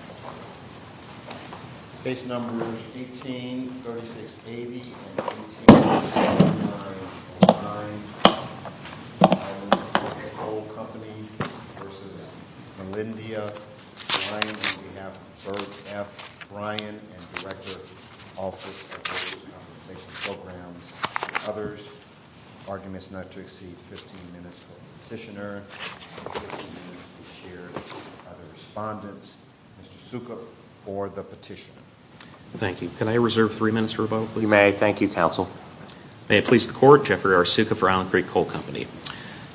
on behalf of Bert F. Bryan and Director, Office of Coal Compensation Programs and others. Arguments not to exceed 15 minutes for the petitioner. Mr. Sukup for the petitioner. Thank you. Can I reserve three minutes for a vote, please? You may. Thank you, Counsel. May it please the Court. Jeffrey R. Sukup for Allen Creek Coal Company.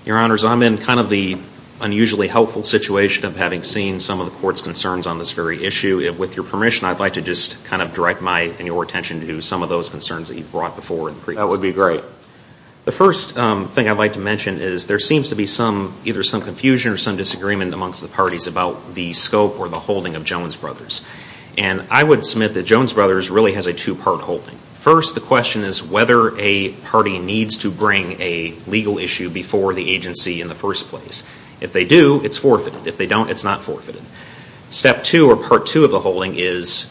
Your Honors, I'm in kind of the unusually helpful situation of having seen some of the Court's concerns on this very issue. With your permission, I'd like to just kind of direct my and your attention to some of those concerns that you've brought before in the brief. That would be great. The first thing I'd like to mention is there seems to be either some confusion or some disagreement amongst the parties about the scope or the holding of Jones Brothers. I would submit that Jones Brothers really has a two-part holding. First, the question is whether a party needs to bring a legal issue before the agency in the first place. If they do, it's forfeited. If they don't, it's not forfeited. Step two or part two of the holding is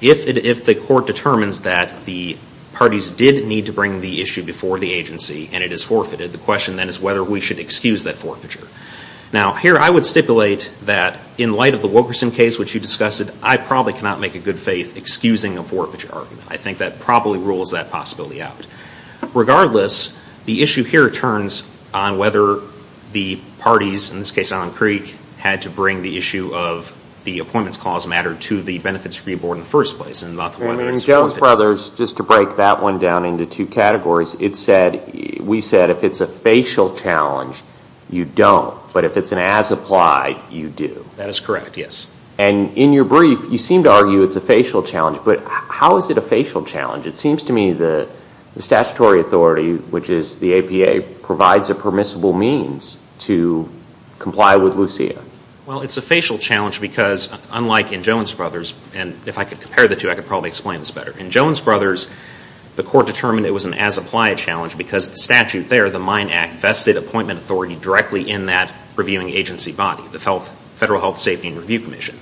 if the Court determines that the parties did need to bring the issue before the agency and it is forfeited, the question then is whether we should excuse that forfeiture. Now, here I would stipulate that in light of the Wilkerson case, which you discussed, I probably cannot make a good faith excusing a forfeiture argument. I think that probably rules that possibility out. Regardless, the issue here turns on whether the parties, in this case Allen Creek, had to bring the issue of the appointments clause matter to the Benefits Review Board in the first place and not whether it's forfeited. Well, in Jones Brothers, just to break that one down into two categories, we said if it's a facial challenge, you don't, but if it's an as-applied, you do. That is correct, yes. And in your brief, you seem to argue it's a facial challenge, but how is it a facial challenge? It seems to me the statutory authority, which is the APA, provides a permissible means to comply with Lucia. Well, it's a facial challenge because, unlike in Jones Brothers, and if I could compare the two, I could probably explain this better. In Jones Brothers, the court determined it was an as-applied challenge because the statute there, the Mine Act, vested appointment authority directly in that reviewing agency body, the Federal Health Safety and Review Commission.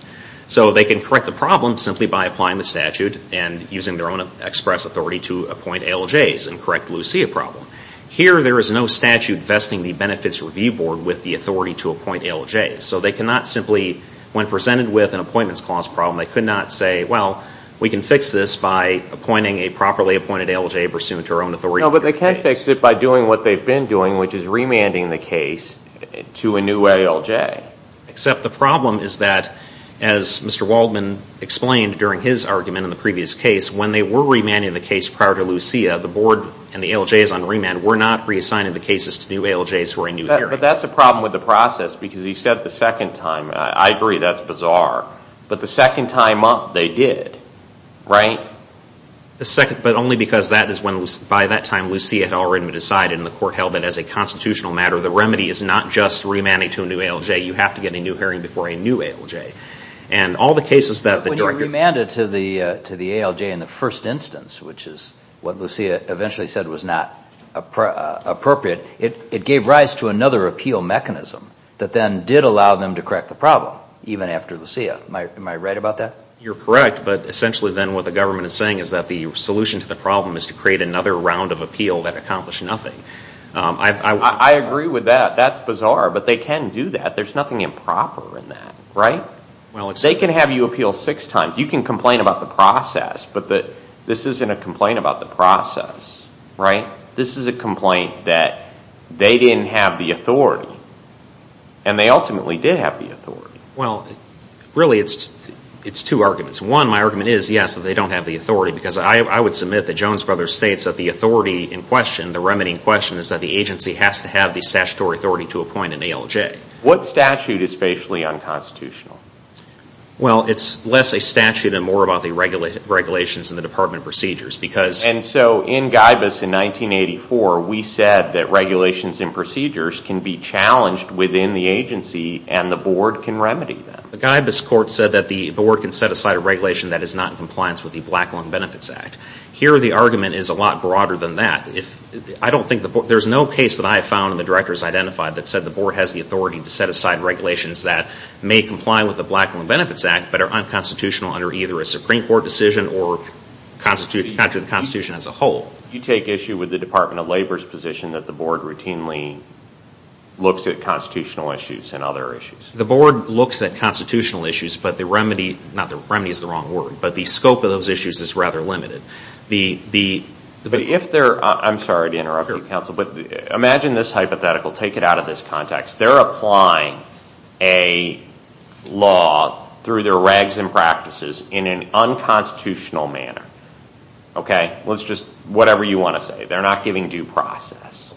So they can correct the problem simply by applying the statute and using their own express authority to appoint ALJs and correct the Lucia problem. Here there is no statute vesting the Benefits Review Board with the authority to appoint ALJs. So they cannot simply, when presented with an appointments clause problem, they could not say, well, we can fix this by appointing a properly appointed ALJ pursuant to our own authority. No, but they can fix it by doing what they've been doing, which is remanding the case to a new ALJ. Except the problem is that, as Mr. Waldman explained during his argument in the previous case, when they were remanding the case prior to Lucia, the Board and the ALJs on remand were not reassigning the cases to new ALJs for a new hearing. But that's a problem with the process because you said the second time, I agree that's bizarre, but the second time up, they did, right? But only because that is when, by that time, Lucia had already been decided in the court held that as a constitutional matter, the remedy is not just remanding to a new ALJ. You have to get a new hearing before a new ALJ. And all the cases that the Director... But when you remanded to the ALJ in the first instance, which is what Lucia eventually said was not appropriate, it gave rise to another appeal mechanism that then did allow them to correct the problem, even after Lucia. Am I right about that? You're correct. But essentially then what the government is saying is that the solution to the problem is to create another round of appeal that accomplished nothing. I agree with that. That's bizarre. But they can do that. There's nothing improper in that, right? They can have you appeal six times. You can complain about the process, but this isn't a complaint about the process, right? This is a complaint that they didn't have the authority, and they ultimately did have the authority. Well, really, it's two arguments. One, my argument is, yes, that they don't have the authority, because I would submit that Jones Brothers states that the authority in question, the remedy in question, is that the agency has to have the statutory authority to appoint an ALJ. What statute is facially unconstitutional? Well, it's less a statute and more about the regulations and the department procedures, because... And so in Guybus in 1984, we said that regulations and procedures can be challenged within the agency and the board can remedy them. The Guybus court said that the board can set aside a regulation that is not in compliance with the Black Lung Benefits Act. Here the argument is a lot broader than that. I don't think... There's no case that I have found and the directors identified that said the board has the authority to set aside regulations that may comply with the Black Lung Benefits Act, but are unconstitutional under either a Supreme Court decision or under the Constitution as a whole. You take issue with the Department of Labor's position that the board routinely looks at constitutional issues and other issues? The board looks at constitutional issues, but the remedy... Not that remedy is the wrong word, but the scope of those issues is rather limited. If they're... I'm sorry to interrupt you, counsel, but imagine this hypothetical. Take it out of this context. They're applying a law through their regs and practices in an unconstitutional manner. Okay? Let's just... Whatever you want to say. They're not giving due process.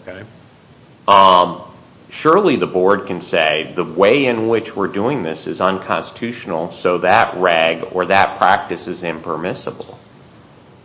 Surely the board can say the way in which we're doing this is unconstitutional, so that reg or that practice is impermissible.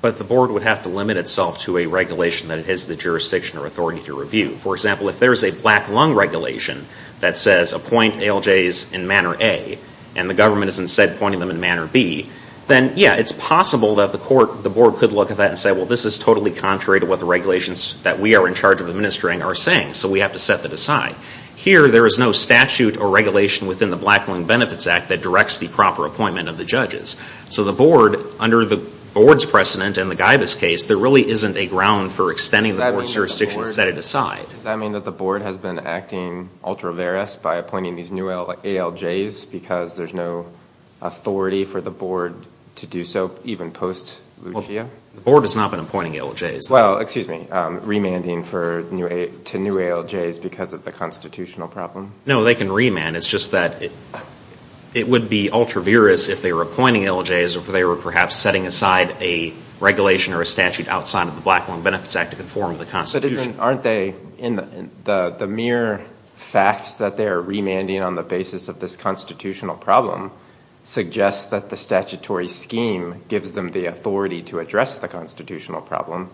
But the board would have to limit itself to a regulation that it has the jurisdiction or authority to review. For example, if there's a black lung regulation that says appoint ALJs in Manor A and the government is instead appointing them in Manor B, then yeah, it's possible that the court, the board could look at that and say, well, this is totally contrary to what the regulations that we are in charge of administering are saying, so we have to set that aside. Here there is no statute or regulation within the Black Lung Benefits Act that directs the proper appointment of the judges. So the board, under the board's precedent in the Guybus case, there really isn't a ground for extending the board's jurisdiction to set it aside. Does that mean that the board has been acting ultra-verus by appointing these new ALJs because there's no authority for the board to do so even post-Lucia? The board has not been appointing ALJs. Well, excuse me, remanding to new ALJs because of the constitutional problem? No, they can remand. It's just that it would be ultra-verus if they were appointing ALJs or if they were perhaps setting aside a regulation or a statute outside of the Black Lung Benefits Act to conform to the Constitution. But isn't, aren't they, the mere fact that they are remanding on the basis of this constitutional problem suggests that the statutory scheme gives them the authority to address the constitutional problem.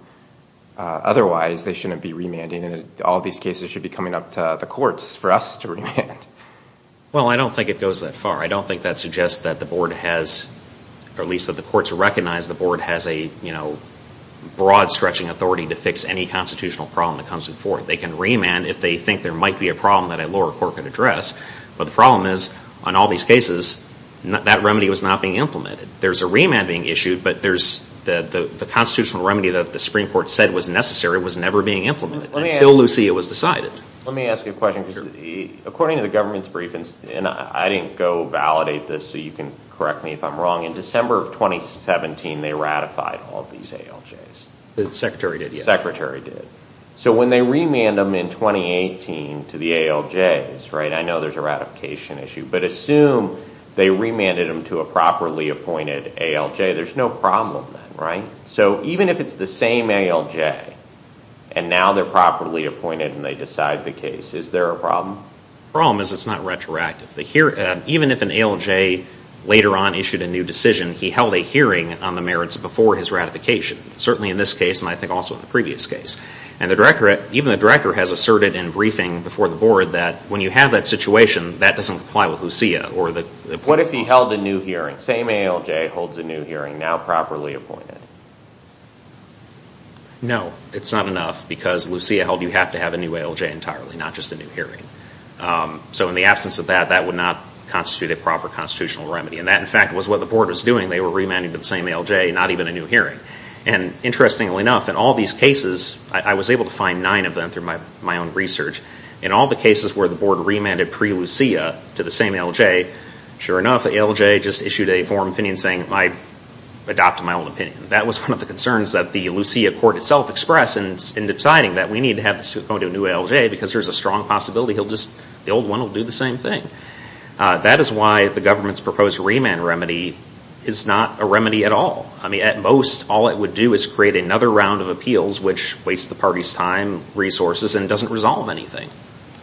Otherwise, they shouldn't be remanding and all these cases should be coming up to the courts for us to remand. Well, I don't think it goes that far. I don't think that suggests that the board has, or at least that the courts recognize the board has a, you know, broad-stretching authority to fix any constitutional problem that comes before it. They can remand if they think there might be a problem that a lower court could address. But the problem is, on all these cases, that remedy was not being implemented. There's a remand being issued, but there's, the constitutional remedy that the Supreme Court said was necessary was never being implemented until Lucia was decided. Let me ask you a question. Sure. The, according to the government's brief, and I didn't go validate this so you can correct me if I'm wrong. In December of 2017, they ratified all these ALJs. The secretary did, yes. The secretary did. So when they remand them in 2018 to the ALJs, right, I know there's a ratification issue, but assume they remanded them to a properly appointed ALJ, there's no problem then, right? So even if it's the same ALJ, and now they're properly appointed and they decide the case, is there a problem? The problem is it's not retroactive. Even if an ALJ later on issued a new decision, he held a hearing on the merits before his ratification. Certainly in this case, and I think also in the previous case. And the director, even the director has asserted in briefing before the board that when you have that situation, that doesn't apply with Lucia. Or the- What if he held a new hearing, same ALJ, holds a new hearing, now properly appointed? No. It's not enough, because Lucia held you have to have a new ALJ entirely, not just a new hearing. So in the absence of that, that would not constitute a proper constitutional remedy. And that, in fact, was what the board was doing. They were remanding to the same ALJ, not even a new hearing. And interestingly enough, in all these cases, I was able to find nine of them through my own research. In all the cases where the board remanded pre-Lucia to the same ALJ, sure enough, the ALJ just issued a forum opinion saying, I adopted my own opinion. That was one of the concerns that the Lucia court itself expressed in deciding that we need to have this to go to a new ALJ, because there's a strong possibility he'll just, the old one will do the same thing. That is why the government's proposed remand remedy is not a remedy at all. I mean, at most, all it would do is create another round of appeals, which wastes the party's time, resources, and doesn't resolve anything.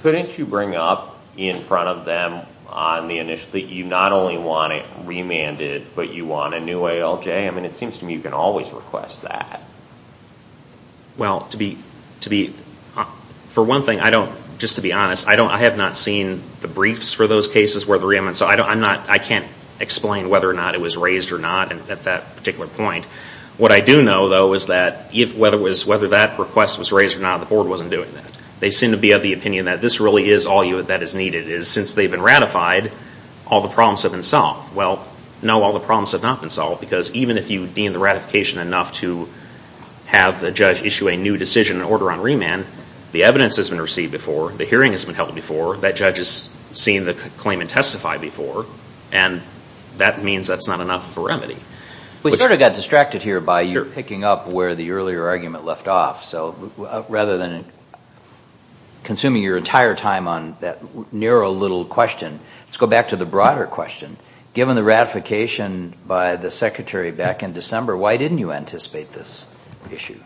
Couldn't you bring up in front of them on the initiative that you not only want to remand it, but you want a new ALJ? It seems to me you can always request that. Well, to be, for one thing, I don't, just to be honest, I have not seen the briefs for those cases where the remand, so I'm not, I can't explain whether or not it was raised or not at that particular point. What I do know, though, is that whether that request was raised or not, the board wasn't doing that. They seem to be of the opinion that this really is all that is needed. Since they've been ratified, all the problems have been solved. Well, no, all the problems have not been solved, because even if you deem the ratification enough to have the judge issue a new decision and order on remand, the evidence has been received before, the hearing has been held before, that judge has seen the claimant testify before, and that means that's not enough for remedy. We sort of got distracted here by you picking up where the earlier argument left off. So rather than consuming your entire time on that narrow little question, let's go back to the broader question. Given the ratification by the secretary back in December, why didn't you anticipate this issue?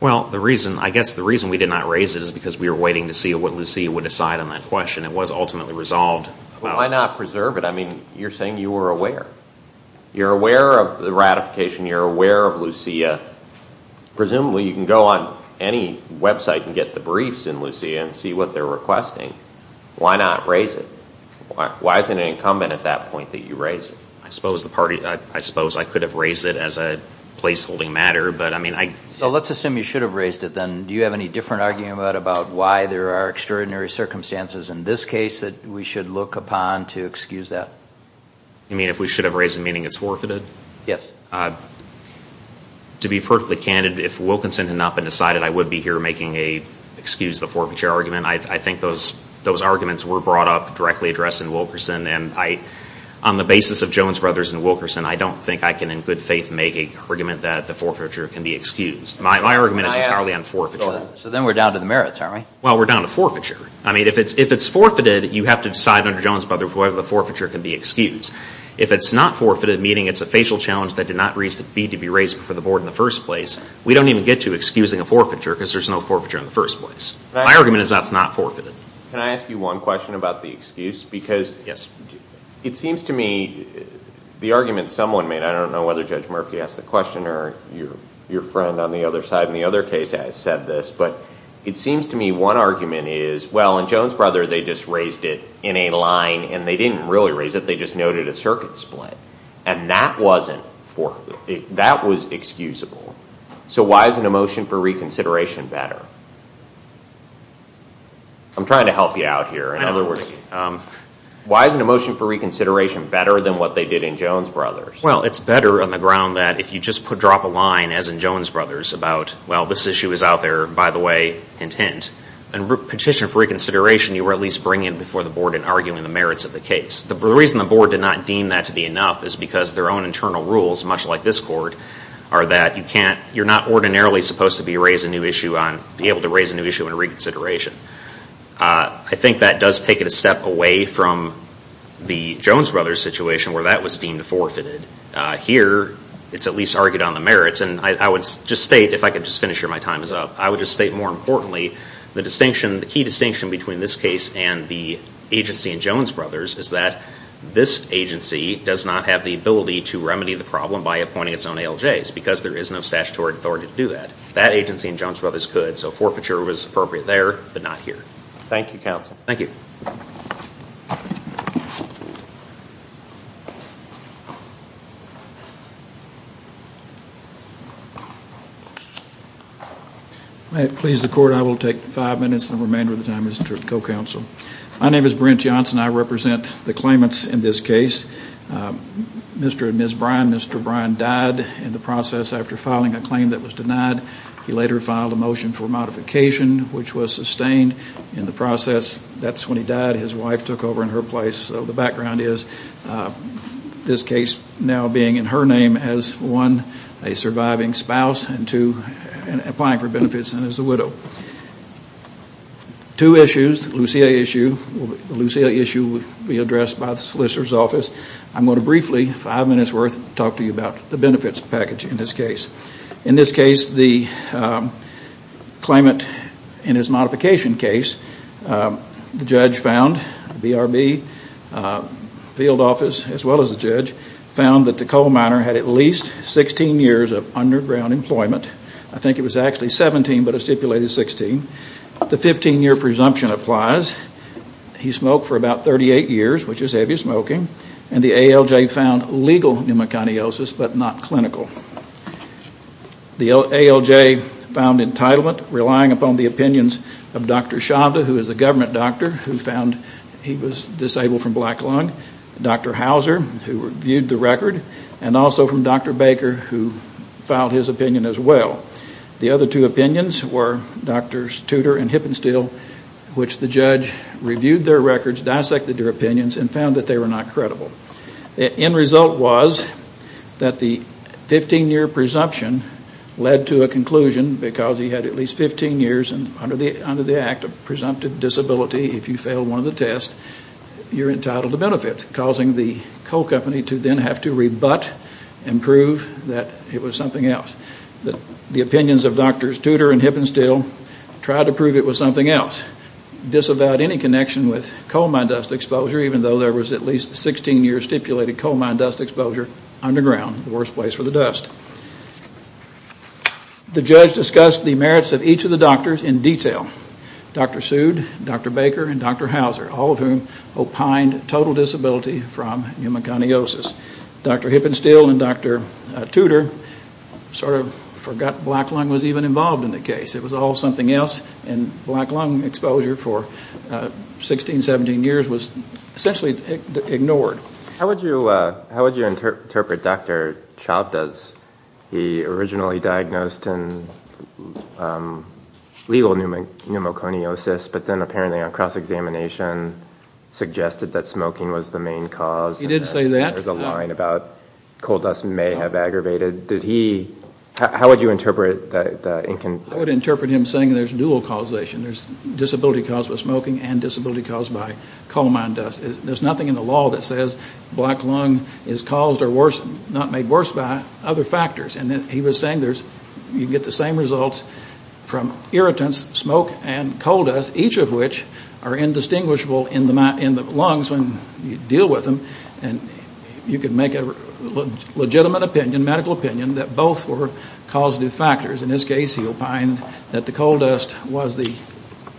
Well, the reason, I guess the reason we did not raise it is because we were waiting to see what Lucia would decide on that question. It was ultimately resolved. Well, why not preserve it? I mean, you're saying you were aware. You're aware of the ratification, you're aware of Lucia. Presumably you can go on any website and get the briefs in Lucia and see what they're requesting. Why not raise it? Why is it incumbent at that point that you raise it? I suppose the party, I suppose I could have raised it as a place-holding matter, but I mean I... So let's assume you should have raised it then. Do you have any different argument about why there are extraordinary circumstances in this case that we should look upon to excuse that? You mean if we should have raised it, meaning it's forfeited? Yes. To be perfectly candid, if Wilkinson had not been decided, I would be here making a excuse the forfeiture argument. I think those arguments were brought up directly addressed in Wilkinson and I, on the basis of Jones Brothers and Wilkinson, I don't think I can in good faith make an argument that the forfeiture can be excused. My argument is entirely on forfeiture. So then we're down to the merits, aren't we? Well, we're down to forfeiture. I mean, if it's forfeited, you have to decide under Jones Brothers whether the forfeiture can be excused. If it's not forfeited, meaning it's a facial challenge that did not need to be raised before the board in the first place, we don't even get to excusing a forfeiture because there's no forfeiture in the first place. My argument is that's not forfeited. Can I ask you one question about the excuse? Because it seems to me the argument someone made, I don't know whether Judge Murphy asked the question or your friend on the other side in the other case has said this, but it seems to me one argument is, well, in Jones Brothers, they just raised it in a line and they didn't really raise it. They just noted a circuit split and that wasn't forfeited. That was excusable. So why isn't a motion for reconsideration better? I'm trying to help you out here. Why isn't a motion for reconsideration better than what they did in Jones Brothers? Well, it's better on the ground that if you just drop a line, as in Jones Brothers, about, well, this issue is out there, by the way, hint, hint, and petition for reconsideration, you were at least bringing it before the board and arguing the merits of the case. The reason the board did not deem that to be enough is because their own internal rules, much like this court, are that you're not ordinarily supposed to be able to raise a new issue in a reconsideration. I think that does take it a step away from the Jones Brothers situation where that was deemed forfeited. Here, it's at least argued on the merits, and I would just state, if I could just finish here, my time is up. I would just state more importantly, the distinction, the key distinction between this case and the agency in Jones Brothers is that this agency does not have the ability to remedy the problem by appointing its own ALJs, because there is no statutory authority to do that. That agency in Jones Brothers could, so forfeiture was appropriate there, but not here. Thank you, counsel. Thank you. May it please the court, I will take five minutes, and the remainder of the time is for the co-counsel. My name is Brent Johnson. I represent the claimants in this case. Mr. and Ms. Bryan, Mr. Bryan died in the process after filing a claim that was denied. He later filed a motion for modification, which was sustained in the process. That's when he died. His wife took over in her place, so the background is this case now being in her name as one, a surviving spouse, and two, applying for benefits and as a widow. Two issues, the Lucia issue, the Lucia issue will be addressed by the Solicitor's Office. I'm going to briefly, five minutes worth, talk to you about the benefits package in this case. In this case, the claimant in his modification case, the judge found, BRB, field office, as well as the judge, found that the coal miner had at least 16 years of underground employment. I think it was actually 17, but it stipulated 16. The 15-year presumption applies. He smoked for about 38 years, which is heavy smoking, and the ALJ found legal pneumoconiosis, but not clinical. The ALJ found entitlement, relying upon the opinions of Dr. Shabda, who is a government doctor, who found he was disabled from black lung, Dr. Hauser, who reviewed the record, and also from Dr. Baker, who filed his opinion as well. The other two opinions were Drs. Tudor and Hippenstiel, which the judge reviewed their records, dissected their opinions, and found that they were not credible. End result was that the 15-year presumption led to a conclusion, because he had at least 15 years under the act of presumptive disability. If you fail one of the tests, you're entitled to benefits, causing the coal company to then have to rebut and prove that it was something else. The opinions of Drs. Tudor and Hippenstiel tried to prove it was something else, disavowed any connection with coal mine dust exposure, even though there was at least 16 years stipulated coal mine dust exposure underground, the worst place for the dust. The judge discussed the merits of each of the doctors in detail, Dr. Sood, Dr. Baker, and Dr. Hauser, all of whom opined total disability from pneumoconiosis. Dr. Hippenstiel and Dr. Tudor sort of forgot black lung was even involved in the case. It was all something else, and black lung exposure for 16, 17 years was essentially ignored. How would you interpret Dr. Chavda's, he originally diagnosed in legal pneumoconiosis, but then apparently on cross-examination, suggested that smoking was the main cause. He did say that. There's a line about coal dust may have aggravated, did he, how would you interpret that? I would interpret him saying there's dual causation, there's disability caused by smoking and disability caused by coal mine dust. There's nothing in the law that says black lung is caused or worse, not made worse by other factors. And he was saying there's, you get the same results from irritants, smoke and coal dust, each of which are indistinguishable in the lungs when you deal with them, and you can make a legitimate opinion, medical opinion, that both were causative factors. In this case, he opined that the coal dust was the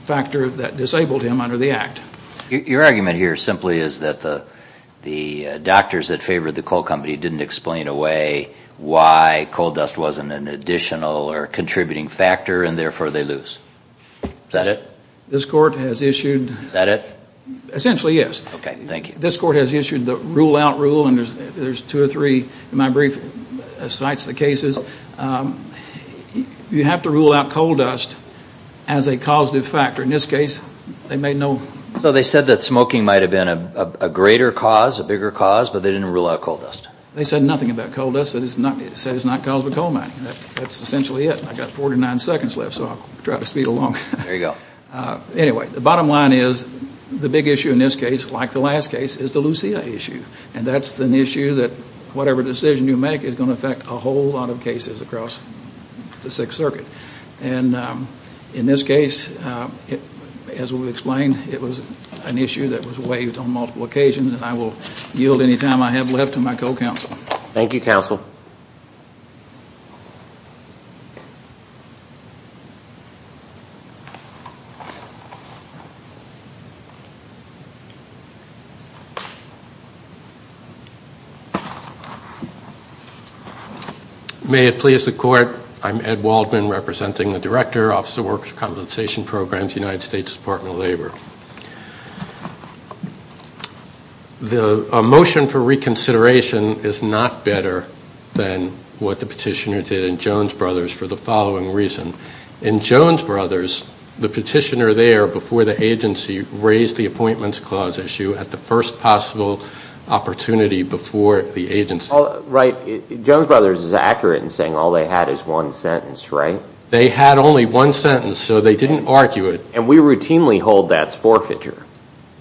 factor that disabled him under the act. Your argument here simply is that the doctors that favored the coal company didn't explain away why coal dust wasn't an additional or contributing factor, and therefore they lose. Is that it? This court has issued... Is that it? Essentially, yes. Okay. Thank you. This court has issued the rule out rule, and there's two or three in my brief that cites the cases. You have to rule out coal dust as a causative factor. In this case, they made no... So they said that smoking might have been a greater cause, a bigger cause, but they didn't rule out coal dust. They said nothing about coal dust, they said it's not caused by coal mining. That's essentially it. I've got 49 seconds left, so I'll try to speed along. There you go. Anyway, the bottom line is the big issue in this case, like the last case, is the Lucia issue, and that's an issue that whatever decision you make is going to affect a whole lot of cases across the Sixth Circuit. In this case, as we explained, it was an issue that was waived on multiple occasions, and I will yield any time I have left to my co-counsel. Thank you, counsel. May it please the court. I'm Ed Waldman, representing the Director, Office of Worker Compensation Programs, United States Department of Labor. A motion for reconsideration is not better than what the petitioner did in Jones Brothers for the following reason. In Jones Brothers, the petitioner there, before the agency, raised the Appointments Clause issue at the first possible opportunity before the agency. Right. Jones Brothers is accurate in saying all they had is one sentence, right? They had only one sentence, so they didn't argue it. And we routinely hold that as forfeiture.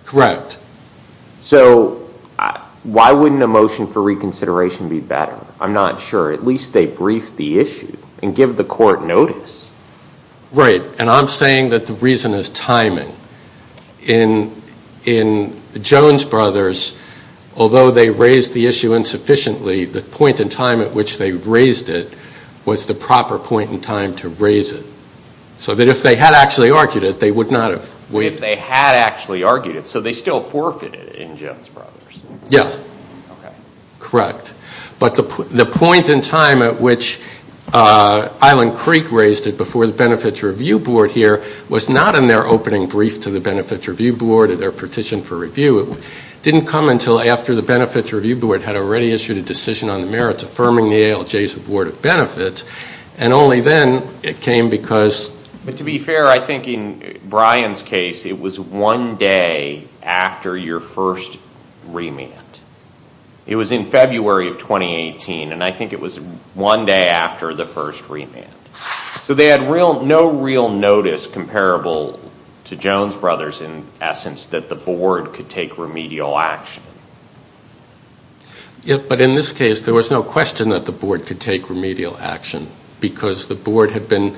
Correct. So why wouldn't a motion for reconsideration be better? I'm not sure. At least they briefed the issue and give the court notice. Right. And I'm saying that the reason is timing. In Jones Brothers, although they raised the issue insufficiently, the point in time at which they raised it was the proper point in time to raise it. So that if they had actually argued it, they would not have waived it. If they had actually argued it. So they still forfeited it in Jones Brothers? Yeah. Okay. Correct. But the point in time at which Island Creek raised it before the Benefits Review Board here was not in their opening brief to the Benefits Review Board at their petition for review. It didn't come until after the Benefits Review Board had already issued a decision on the To be fair, I think in Brian's case, it was one day after your first remand. It was in February of 2018, and I think it was one day after the first remand. So they had no real notice comparable to Jones Brothers in essence that the board could take remedial action. But in this case, there was no question that the board could take remedial action because the board had been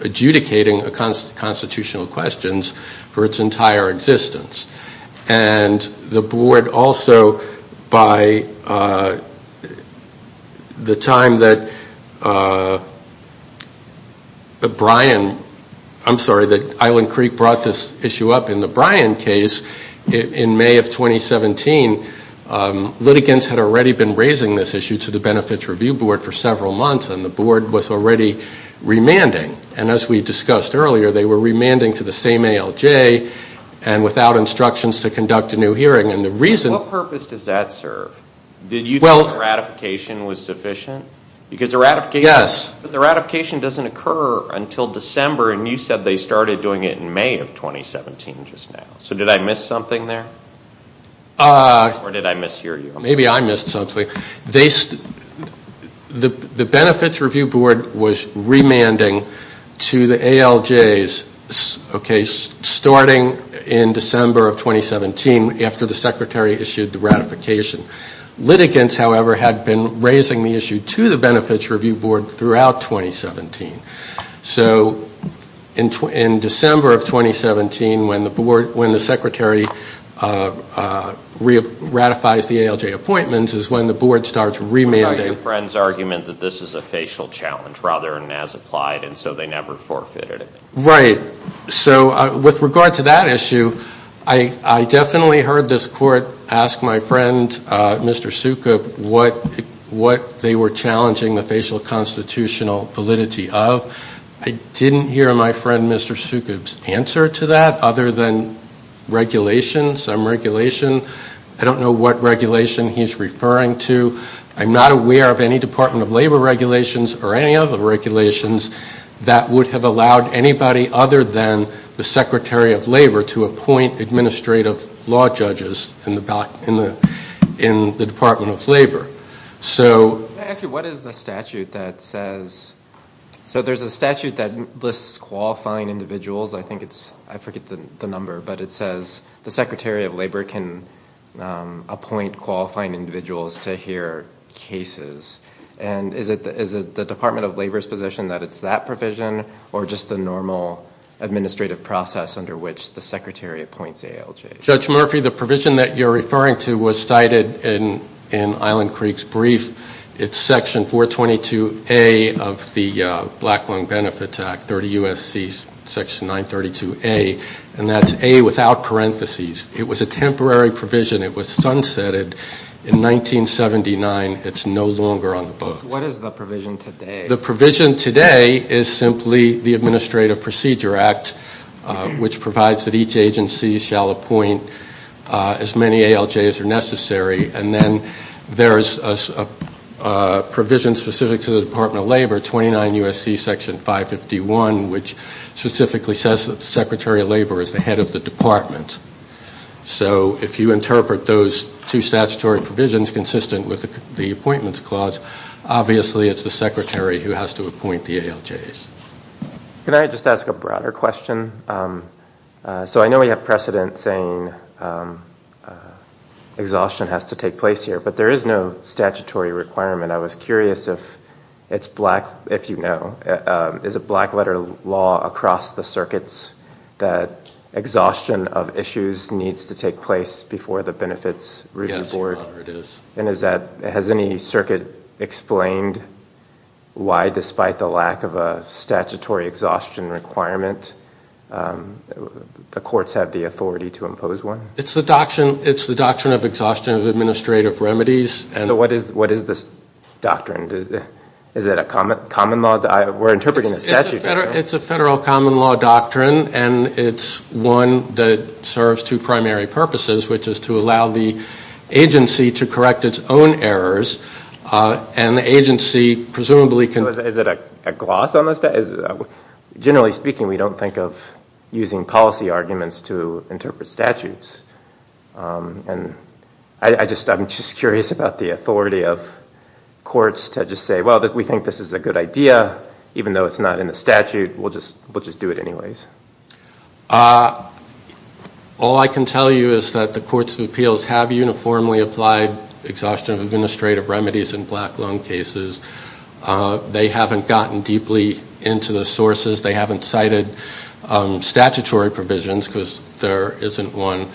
adjudicating constitutional questions for its entire existence. And the board also, by the time that Island Creek brought this issue up in the Brian case in May of 2017, litigants had already been raising this issue to the Benefits Review Board for several months, and the board was already remanding. And as we discussed earlier, they were remanding to the same ALJ and without instructions to conduct a new hearing. And the reason... What purpose does that serve? Did you think the ratification was sufficient? Because the ratification doesn't occur until December, and you said they started doing it in May of 2017 just now. So did I miss something there? Or did I mishear you? Maybe I missed something. The Benefits Review Board was remanding to the ALJs, okay, starting in December of 2017 after the secretary issued the ratification. Litigants, however, had been raising the issue to the Benefits Review Board throughout 2017. So in December of 2017, when the secretary ratifies the ALJ appointments is when the board starts remanding. But I have a friend's argument that this is a facial challenge rather than as applied, and so they never forfeited it. Right. So with regard to that issue, I definitely heard this court ask my friend, Mr. Sukup, what they were challenging the facial constitutional validity of. I didn't hear my friend, Mr. Sukup's, answer to that other than regulation, some regulation. I don't know what regulation he's referring to. I'm not aware of any Department of Labor regulations or any other regulations that would have allowed anybody other than the Secretary of Labor to appoint administrative law judges in the Department of Labor. So... Let me ask you, what is the statute that says... So there's a statute that lists qualifying individuals. I think it's... I forget the number, but it says the Secretary of Labor can appoint qualifying individuals to hear cases. And is it the Department of Labor's position that it's that provision or just the normal administrative process under which the secretary appoints ALJs? Judge Murphy, the provision that you're referring to was cited in Island Creek's brief. It's section 422A of the Black Lung Benefits Act, 30 U.S.C. section 932A, and that's A without parentheses. It was a temporary provision. It was sunsetted in 1979. It's no longer on the books. What is the provision today? The provision today is simply the Administrative Procedure Act, which provides that each agency shall appoint as many ALJs as are necessary. And then there's a provision specific to the Department of Labor, 29 U.S.C. section 551, which specifically says that the Secretary of Labor is the head of the department. So if you interpret those two statutory provisions consistent with the appointments clause, obviously it's the secretary who has to appoint the ALJs. Can I just ask a broader question? So I know we have precedent saying exhaustion has to take place here, but there is no statutory requirement. I was curious if it's black, if you know, is a black letter law across the circuits that exhaustion of issues needs to take place before the Benefits Review Board? Yes, your honor, it is. And is that, has any circuit explained why, despite the lack of a statutory exhaustion requirement, the courts have the authority to impose one? It's the doctrine of exhaustion of administrative remedies. So what is this doctrine? Is it a common law? We're interpreting the statute right now. It's a federal common law doctrine, and it's one that serves two primary purposes, which is to correct its own errors, and the agency presumably can... So is it a gloss on this? Generally speaking, we don't think of using policy arguments to interpret statutes. And I'm just curious about the authority of courts to just say, well, we think this is a good idea, even though it's not in the statute, we'll just do it anyways. All I can tell you is that the courts of appeals have uniformly applied exhaustion of administrative remedies in black loan cases. They haven't gotten deeply into the sources. They haven't cited statutory provisions, because there isn't one.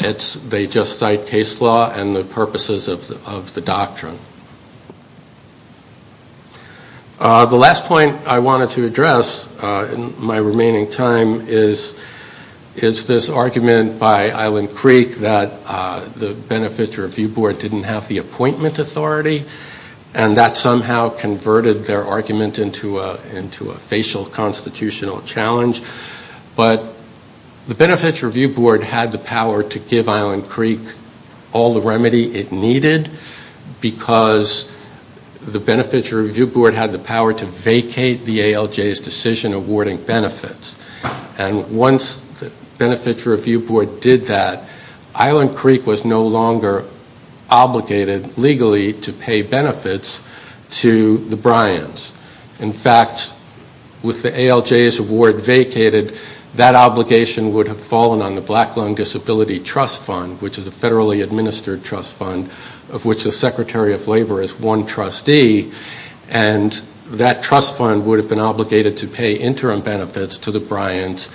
They just cite case law and the purposes of the doctrine. The last point I wanted to address in my remaining time is this argument by Island Creek that the Benefits Review Board didn't have the appointment authority, and that somehow converted their argument into a facial constitutional challenge. But the Benefits Review Board had the power to give Island Creek all the remedy it needed, because the Benefits Review Board had the power to vacate the ALJ's decision awarding benefits. And once the Benefits Review Board did that, Island Creek was no longer obligated legally to pay benefits to the Bryans. In fact, with the ALJ's award vacated, that obligation would have fallen on the Black which the Secretary of Labor is one trustee, and that trust fund would have been obligated to pay interim benefits to the Bryans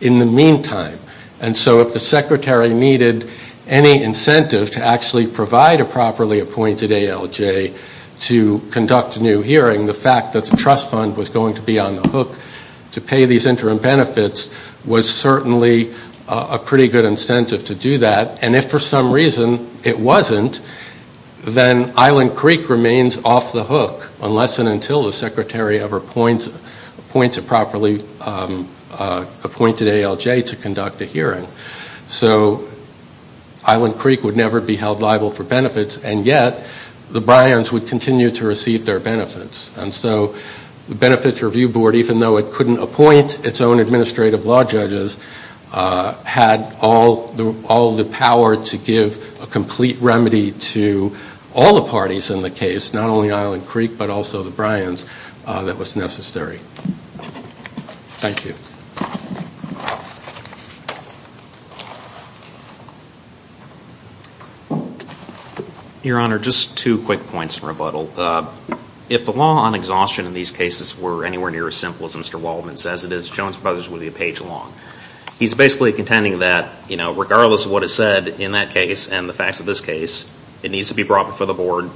in the meantime. And so if the Secretary needed any incentive to actually provide a properly appointed ALJ to conduct a new hearing, the fact that the trust fund was going to be on the hook to pay these interim benefits was certainly a pretty good incentive to do that. And if for some reason it wasn't, then Island Creek remains off the hook, unless and until the Secretary ever appoints a properly appointed ALJ to conduct a hearing. So Island Creek would never be held liable for benefits, and yet the Bryans would continue to receive their benefits. And so the Benefits Review Board, even though it couldn't appoint its own administrative law judges, had all the power to give a complete remedy to all the parties in the case, not only Island Creek but also the Bryans, that was necessary. Thank you. Your Honor, just two quick points in rebuttal. If the law on exhaustion in these cases were anywhere near as simple as Mr. Waldman says it is, Jones Brothers would be a page long. He's basically contending that regardless of what is said in that case and the facts of this case, it needs to be brought before the Board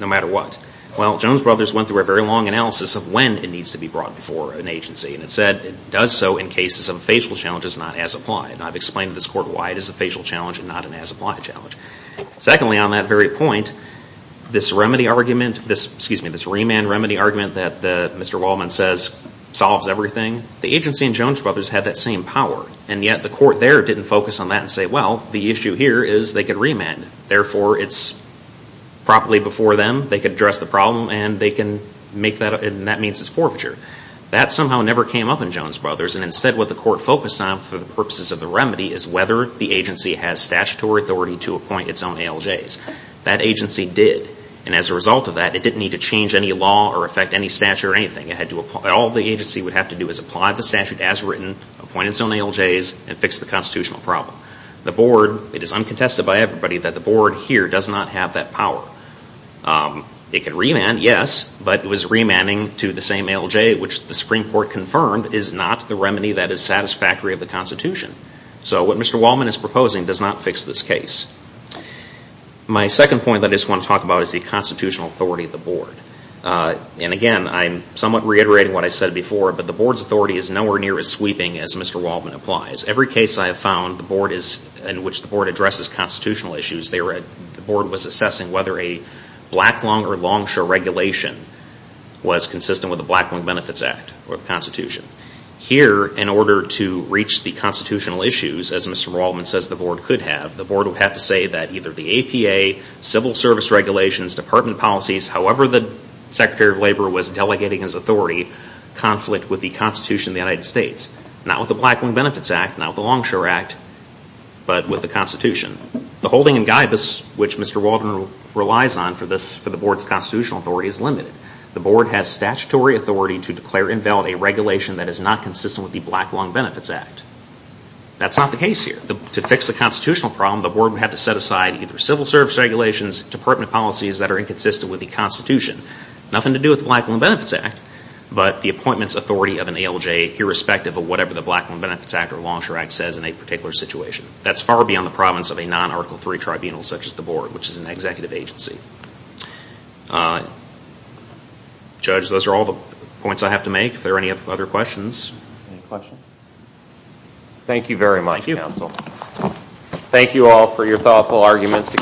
no matter what. Well, Jones Brothers went through a very long analysis of when it needs to be brought before an agency, and it said it does so in cases of facial challenges not as applied. And I've explained to this Court why it is a facial challenge and not an as applied challenge. Secondly, on that very point, this remand remedy argument that Mr. Waldman says solves everything, and the agency in Jones Brothers had that same power. And yet the Court there didn't focus on that and say, well, the issue here is they could remand. Therefore, it's properly before them. They could address the problem, and they can make that up, and that means it's forfeiture. That somehow never came up in Jones Brothers, and instead what the Court focused on for the purposes of the remedy is whether the agency has statutory authority to appoint its own ALJs. That agency did, and as a result of that, it didn't need to change any law or affect any statute or anything. All the agency would have to do is apply the statute as written, appoint its own ALJs, and fix the constitutional problem. The Board, it is uncontested by everybody that the Board here does not have that power. It could remand, yes, but it was remanding to the same ALJ, which the Supreme Court confirmed is not the remedy that is satisfactory of the Constitution. So what Mr. Waldman is proposing does not fix this case. My second point that I just want to talk about is the constitutional authority of the Board. Again, I'm somewhat reiterating what I said before, but the Board's authority is nowhere near as sweeping as Mr. Waldman applies. Every case I have found in which the Board addresses constitutional issues, the Board was assessing whether a Blacklung or Longshore regulation was consistent with the Blacklung Benefits Act or the Constitution. Here, in order to reach the constitutional issues, as Mr. Waldman says the Board could have, the Board would have to say that either the APA, civil service regulations, department policies, however the Secretary of Labor was delegating his authority, conflict with the Constitution of the United States. Not with the Blacklung Benefits Act, not with the Longshore Act, but with the Constitution. The holding in guidance, which Mr. Waldman relies on for the Board's constitutional authority, is limited. The Board has statutory authority to declare invalid a regulation that is not consistent with the Blacklung Benefits Act. That's not the case here. To fix the constitutional problem, the Board would have to set aside either civil service regulations, department policies that are inconsistent with the Constitution, nothing to do with the Blacklung Benefits Act, but the appointment's authority of an ALJ irrespective of whatever the Blacklung Benefits Act or Longshore Act says in a particular situation. That's far beyond the province of a non-Article III tribunal such as the Board, which is an executive agency. Judge, those are all the points I have to make. If there are any other questions. Thank you very much, counsel. Thank you all for your thoughtful arguments.